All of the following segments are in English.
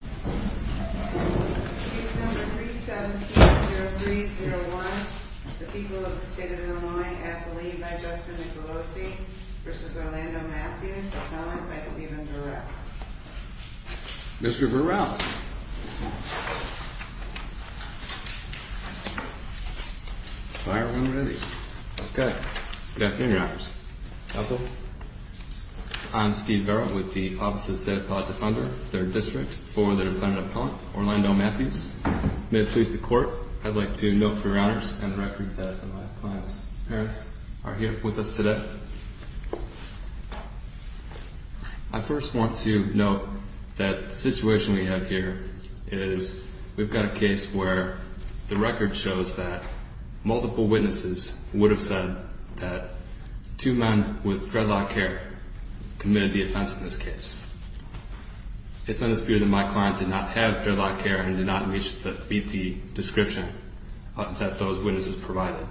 Case number 3720301. The people of the state of Illinois. Appellee by Justin Nicolosi v. Orlando Mathews. Appellant by Stephen Burrell. Mr. Burrell. Firearm ready. Okay. Good afternoon, Your Honors. Counsel. I'm Steve Burrell with the Office of the State Appellate Defender, their district, for the defendant appellant, Orlando Mathews. May it please the Court, I'd like to note for Your Honors and the record that my client's parents are here with us today. I first want to note that the situation we have here is we've got a case where the record shows that multiple witnesses would have said that two men with dreadlock hair committed the offense in this case. It's in the spirit that my client did not have dreadlock hair and did not meet the description that those witnesses provided.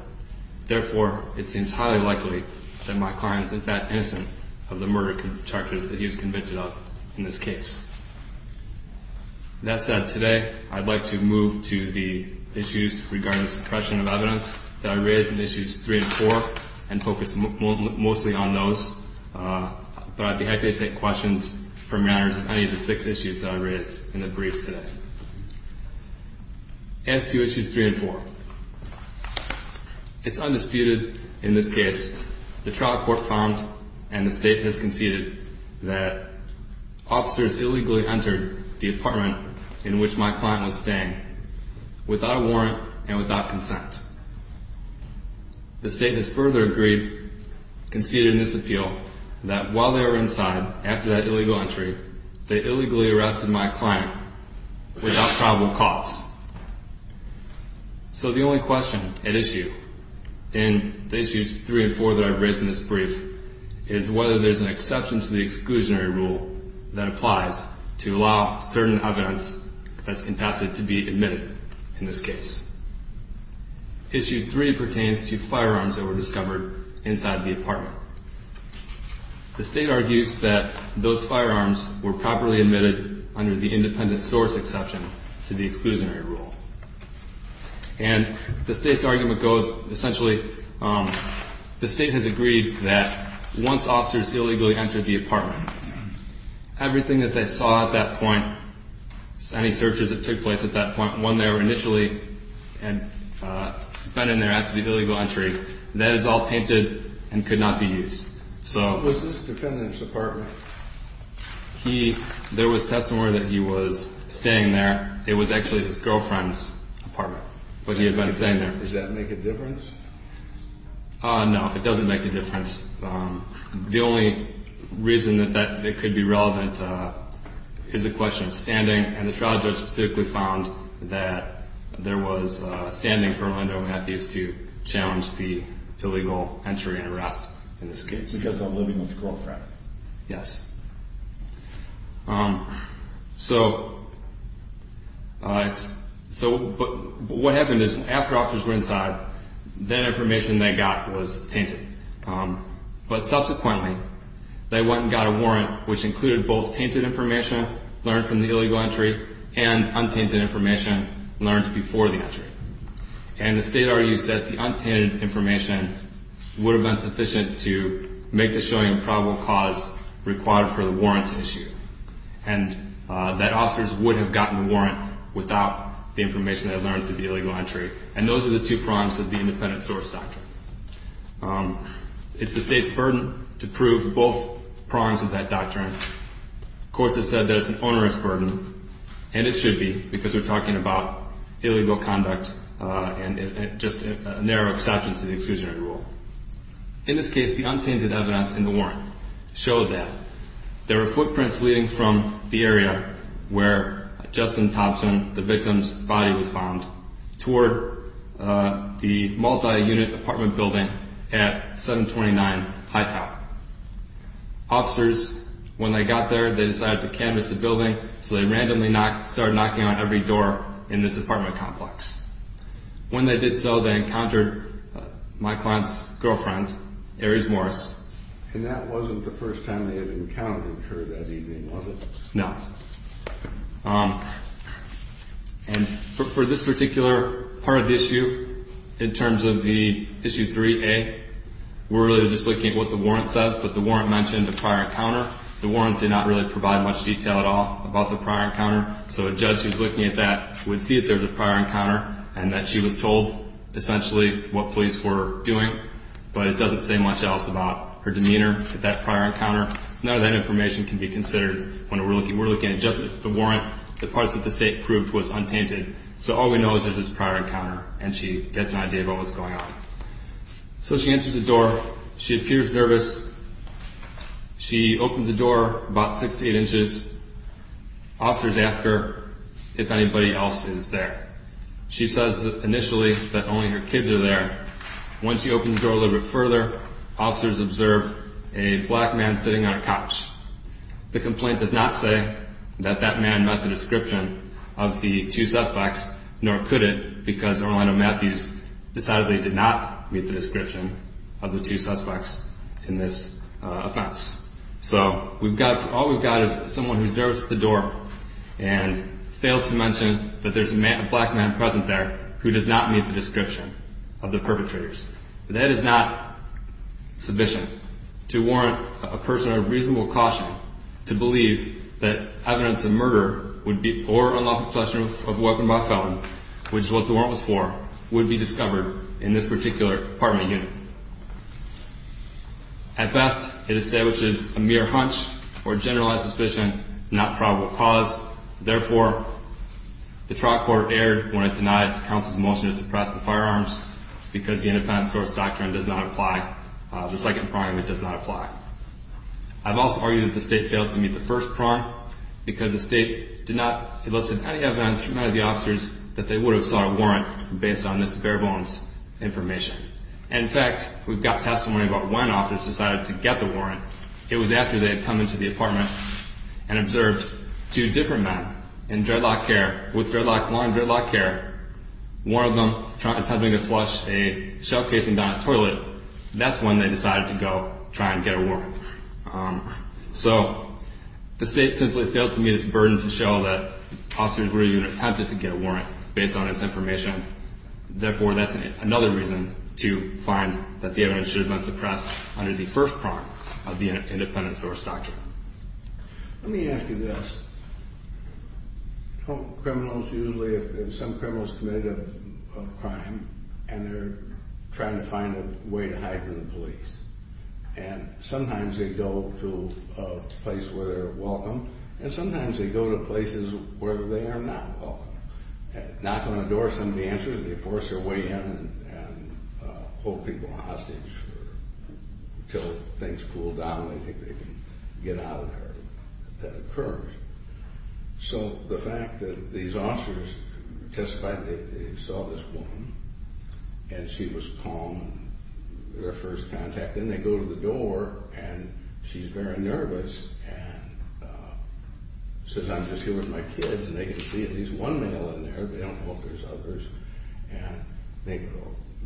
Therefore, it seems highly likely that my client is in fact innocent of the murder charges that he was convicted of in this case. That said, today I'd like to move to the issues regarding suppression of evidence that I raised in issues three and four and focus mostly on those. But I'd be happy to take questions from Your Honors on any of the six issues that I raised in the briefs today. As to issues three and four, it's undisputed in this case the trial court found and the State has conceded that officers illegally entered the apartment in which my client was staying without a warrant and without consent. The State has further agreed, conceded in this appeal, that while they were inside, after that illegal entry, they illegally arrested my client without probable cause. So the only question at issue in the issues three and four that I've raised in this brief is whether there's an exception to the exclusionary rule that applies to allow certain evidence that's contested to be admitted in this case. Issue three pertains to firearms that were discovered inside the apartment. The State argues that those firearms were properly admitted under the independent source exception to the exclusionary rule. And the State's argument goes, essentially, the State has agreed that once officers illegally entered the apartment, everything that they saw at that point, any searches that took place at that point, when they were initially been in there after the illegal entry, that is all tainted and could not be used. So... Was this the defendant's apartment? There was testimony that he was staying there. It was actually his girlfriend's apartment, but he had been staying there. Does that make a difference? No, it doesn't make a difference. The only reason that it could be relevant is a question of standing. And the trial judge specifically found that there was standing for Orlando Matthews to challenge the illegal entry and arrest in this case. Because of living with a girlfriend. Yes. So what happened is after officers were inside, that information they got was tainted. But subsequently, they went and got a warrant, which included both tainted information learned from the illegal entry and untainted information learned before the entry. And the State argues that the untainted information would have been sufficient to make the showing of probable cause required for the warrant issue. And that officers would have gotten the warrant without the information they learned through the illegal entry. And those are the two prongs of the independent source doctrine. It's the State's burden to prove both prongs of that doctrine. Courts have said that it's an onerous burden, and it should be, because we're talking about illegal conduct and just a narrow exception to the exclusionary rule. In this case, the untainted evidence in the warrant showed that there were footprints leading from the area where Justin Thompson, the victim's body, was found, toward the multi-unit apartment building at 729 Hightower. Officers, when they got there, they decided to canvass the building, so they randomly started knocking on every door in this apartment complex. When they did so, they encountered my client's girlfriend, Aries Morris. And that wasn't the first time they had encountered her that evening, was it? No. And for this particular part of the issue, in terms of the issue 3A, we're really just looking at what the warrant says. But the warrant mentioned a prior encounter. The warrant did not really provide much detail at all about the prior encounter. So a judge who's looking at that would see that there's a prior encounter and that she was told, essentially, what police were doing. But it doesn't say much else about her demeanor at that prior encounter. None of that information can be considered when we're looking at just the warrant. The parts that the state proved was untainted. So all we know is that it was a prior encounter, and she gets an idea about what was going on. So she enters the door. She appears nervous. She opens the door about six to eight inches. Officers ask her if anybody else is there. She says, initially, that only her kids are there. Once she opens the door a little bit further, officers observe a black man sitting on a couch. The complaint does not say that that man met the description of the two suspects, nor could it, because Orlando Matthews decided that he did not meet the description of the two suspects in this offense. So all we've got is someone who's nervous at the door and fails to mention that there's a black man present there who does not meet the description of the perpetrators. That is not sufficient to warrant a person of reasonable caution to believe that evidence of murder or unlawful possession of a weapon by felon, which is what the warrant was for, would be discovered in this particular apartment unit. At best, it establishes a mere hunch or generalized suspicion, not probable cause. Therefore, the trial court erred when it denied counsel's motion to suppress the firearms because the independent source doctrine does not apply. The second prong, it does not apply. I've also argued that the state failed to meet the first prong because the state did not elicit any evidence from any of the officers that they would have sought a warrant based on this bare-bones information. And, in fact, we've got testimony about when officers decided to get the warrant. It was after they had come into the apartment and observed two different men in dreadlock hair, with dreadlock long dreadlock hair, one of them attempting to flush a shell casing down a toilet. That's when they decided to go try and get a warrant. So the state simply failed to meet its burden to show that officers were even attempted to get a warrant based on this information. Therefore, that's another reason to find that the evidence should have been suppressed under the first prong of the independent source doctrine. Let me ask you this. Criminals usually, if some criminal's committed a crime, and they're trying to find a way to hide from the police, and sometimes they go to a place where they're welcome, and sometimes they go to places where they are not welcome. Knock on the door, somebody answers, and they force their way in and hold people hostage until things cool down and they think they can get out of there. That occurs. So the fact that these officers testified that they saw this woman, and she was calm, their first contact. Then they go to the door, and she's very nervous and says, Maybe I'm just here with my kids, and they can see at least one male in there. They don't know if there's others.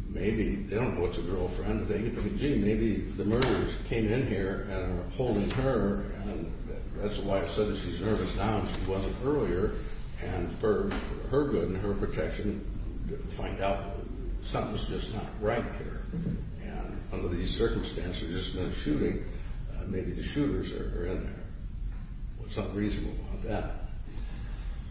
Maybe they don't know it's a girlfriend. Maybe the murderers came in here and are holding her, and that's why I said that she's nervous now and she wasn't earlier. And for her good and her protection, find out something's just not right here. And under these circumstances, there's been a shooting. Maybe the shooters are in there. What's not reasonable about that?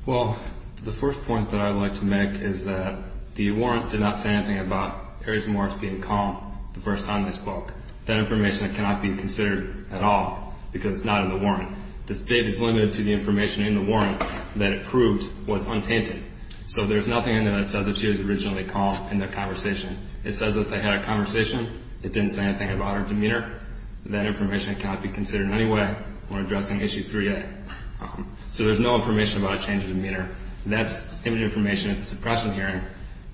Well, the first point that I'd like to make is that the warrant did not say anything about Ares and Marks being calm the first time they spoke. That information cannot be considered at all because it's not in the warrant. The state is limited to the information in the warrant that it proved was untainted. So there's nothing in there that says that she was originally calm in their conversation. It says that they had a conversation. It didn't say anything about her demeanor. That information cannot be considered in any way when addressing Issue 3A. So there's no information about a change of demeanor. That's image information at the suppression hearing,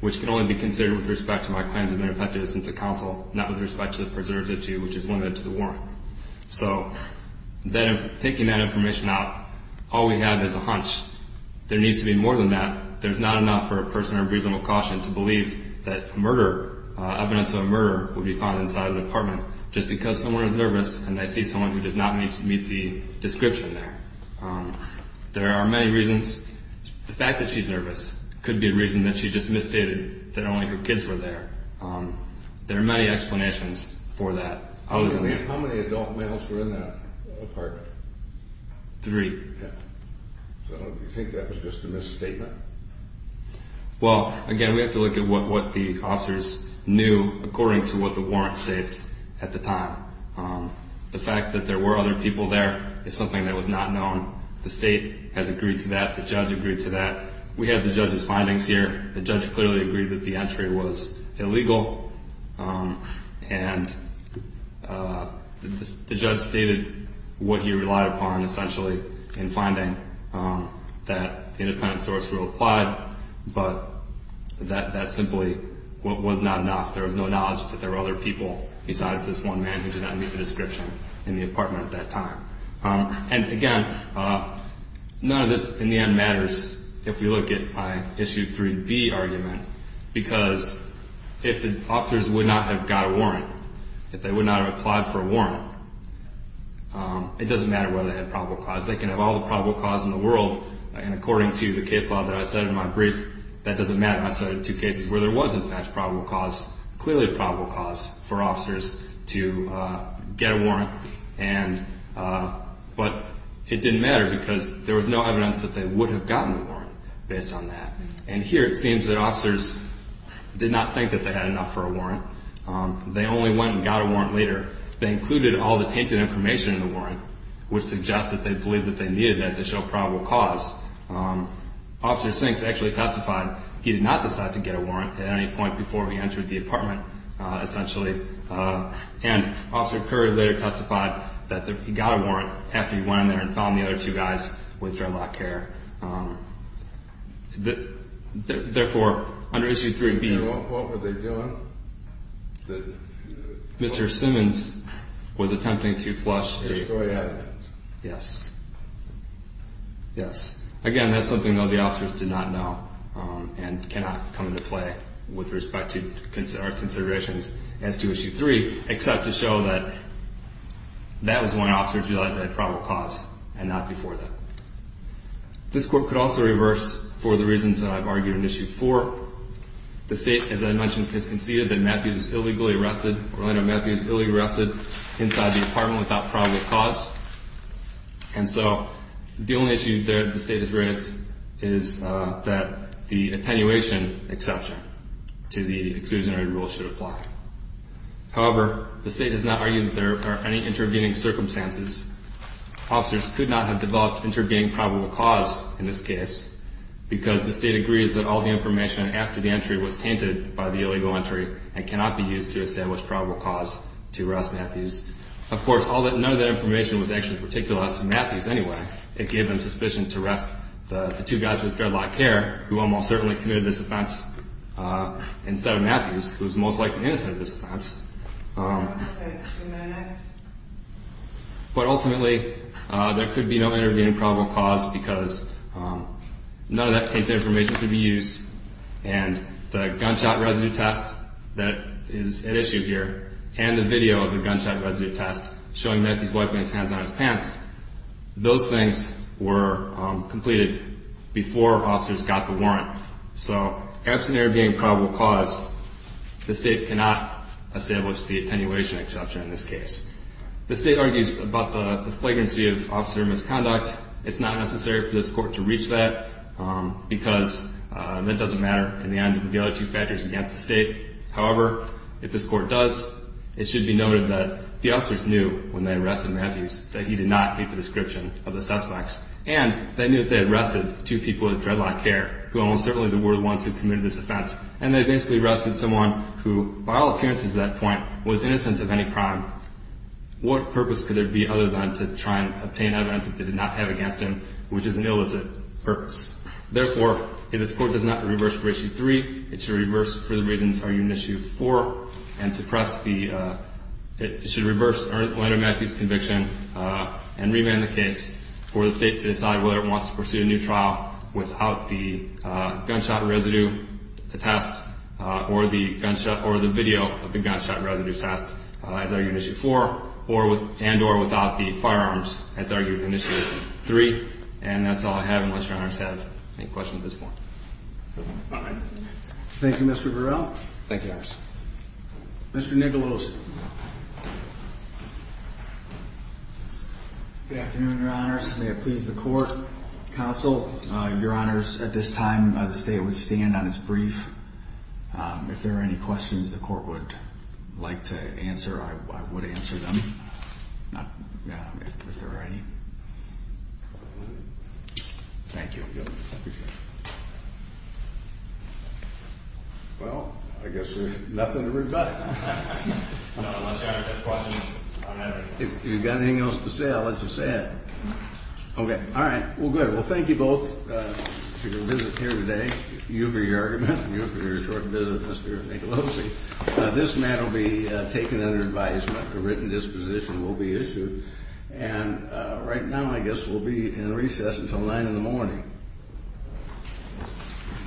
which can only be considered with respect to my claims of ineffective assistance to counsel, not with respect to the preservative to you, which is limited to the warrant. So taking that information out, all we have is a hunch. There needs to be more than that. There's not enough for a person under reasonable caution to believe that murder, evidence of a murder, would be found inside an apartment just because someone is nervous and they see someone who does not meet the description there. There are many reasons. The fact that she's nervous could be a reason that she just misstated that only her kids were there. There are many explanations for that. How many adult males were in that apartment? Three. So you think that was just a misstatement? Well, again, we have to look at what the officers knew according to what the warrant states at the time. The fact that there were other people there is something that was not known. The state has agreed to that. The judge agreed to that. We have the judge's findings here. The judge clearly agreed that the entry was illegal, and the judge stated what he relied upon essentially in finding that the independent source rule applied, but that simply was not enough. There was no knowledge that there were other people besides this one man who did not meet the description in the apartment at that time. And, again, none of this in the end matters if we look at my Issue 3B argument, because if the officers would not have got a warrant, if they would not have applied for a warrant, it doesn't matter whether they had probable cause. They can have all the probable cause in the world, and according to the case law that I said in my brief, that doesn't matter. I cited two cases where there was, in fact, probable cause, clearly probable cause for officers to get a warrant, but it didn't matter because there was no evidence that they would have gotten the warrant based on that. And here it seems that officers did not think that they had enough for a warrant. They only went and got a warrant later. They included all the tainted information in the warrant, which suggests that they believed that they needed that to show probable cause. Officer Sinks actually testified he did not decide to get a warrant at any point before he entered the apartment, essentially, and Officer Curry later testified that he got a warrant after he went in there and found the other two guys with dreadlock hair. Therefore, under Issue 3B, what were they doing? Mr. Simmons was attempting to flush. Destroy evidence. Yes. Yes. Again, that's something, though, the officers did not know and cannot come into play with respect to our considerations as to Issue 3, except to show that that was when officers realized they had probable cause and not before that. This court could also reverse for the reasons that I've argued in Issue 4. The State, as I mentioned, has conceded that Matthews was illegally arrested, Orlando Matthews was illegally arrested inside the apartment without probable cause. And so the only issue that the State has raised is that the attenuation exception to the exclusionary rule should apply. However, the State has not argued that there are any intervening circumstances. Officers could not have developed intervening probable cause in this case because the State agrees that all the information after the entry was tainted by the illegal entry and cannot be used to establish probable cause to arrest Matthews. Of course, none of that information was actually particularized to Matthews anyway. It gave them suspicion to arrest the two guys with dreadlock hair who almost certainly committed this offense instead of Matthews, who was most likely innocent of this offense. But ultimately, there could be no intervening probable cause because none of that tainted information could be used. And the gunshot residue test that is at issue here and the video of the gunshot residue test showing Matthews wiping his hands on his pants, those things were completed before officers got the warrant. So absent there being probable cause, the State cannot establish the attenuation exception in this case. The State argues about the flagrancy of officer misconduct. It's not necessary for this Court to reach that because that doesn't matter in the end with the other two factors against the State. However, if this Court does, it should be noted that the officers knew when they arrested Matthews that he did not meet the description of the suspects, and they knew that they arrested two people with dreadlock hair who almost certainly were the ones who committed this offense. And they basically arrested someone who, by all appearances at that point, was innocent of any crime. What purpose could there be other than to try and obtain evidence that they did not have against him, which is an illicit purpose? Therefore, if this Court does not reverse for Issue 3, it should reverse for the reasons argued in Issue 4 and suppress the conviction and remand the case for the State to decide whether it wants to pursue a new trial without the gunshot residue attest or the video of the gunshot residue attest, as argued in Issue 4, and or without the firearms, as argued in Issue 3. And that's all I have, unless Your Honors have any questions at this point. All right. Thank you, Mr. Burrell. Thank you, Your Honors. Mr. Nicholos. Good afternoon, Your Honors. May it please the Court, Counsel, Your Honors, at this time, the State would stand on its brief. If there are any questions the Court would like to answer, I would answer them, if there are any. Thank you. Well, I guess there's nothing to rebut. If you've got anything else to say, I'll let you say it. Okay. All right. Well, good. Well, thank you both for your visit here today. Thank you for your argument and your short visit, Mr. Nicholos. This matter will be taken under advisement. A written disposition will be issued. And right now, I guess, we'll be in recess until 9 in the morning.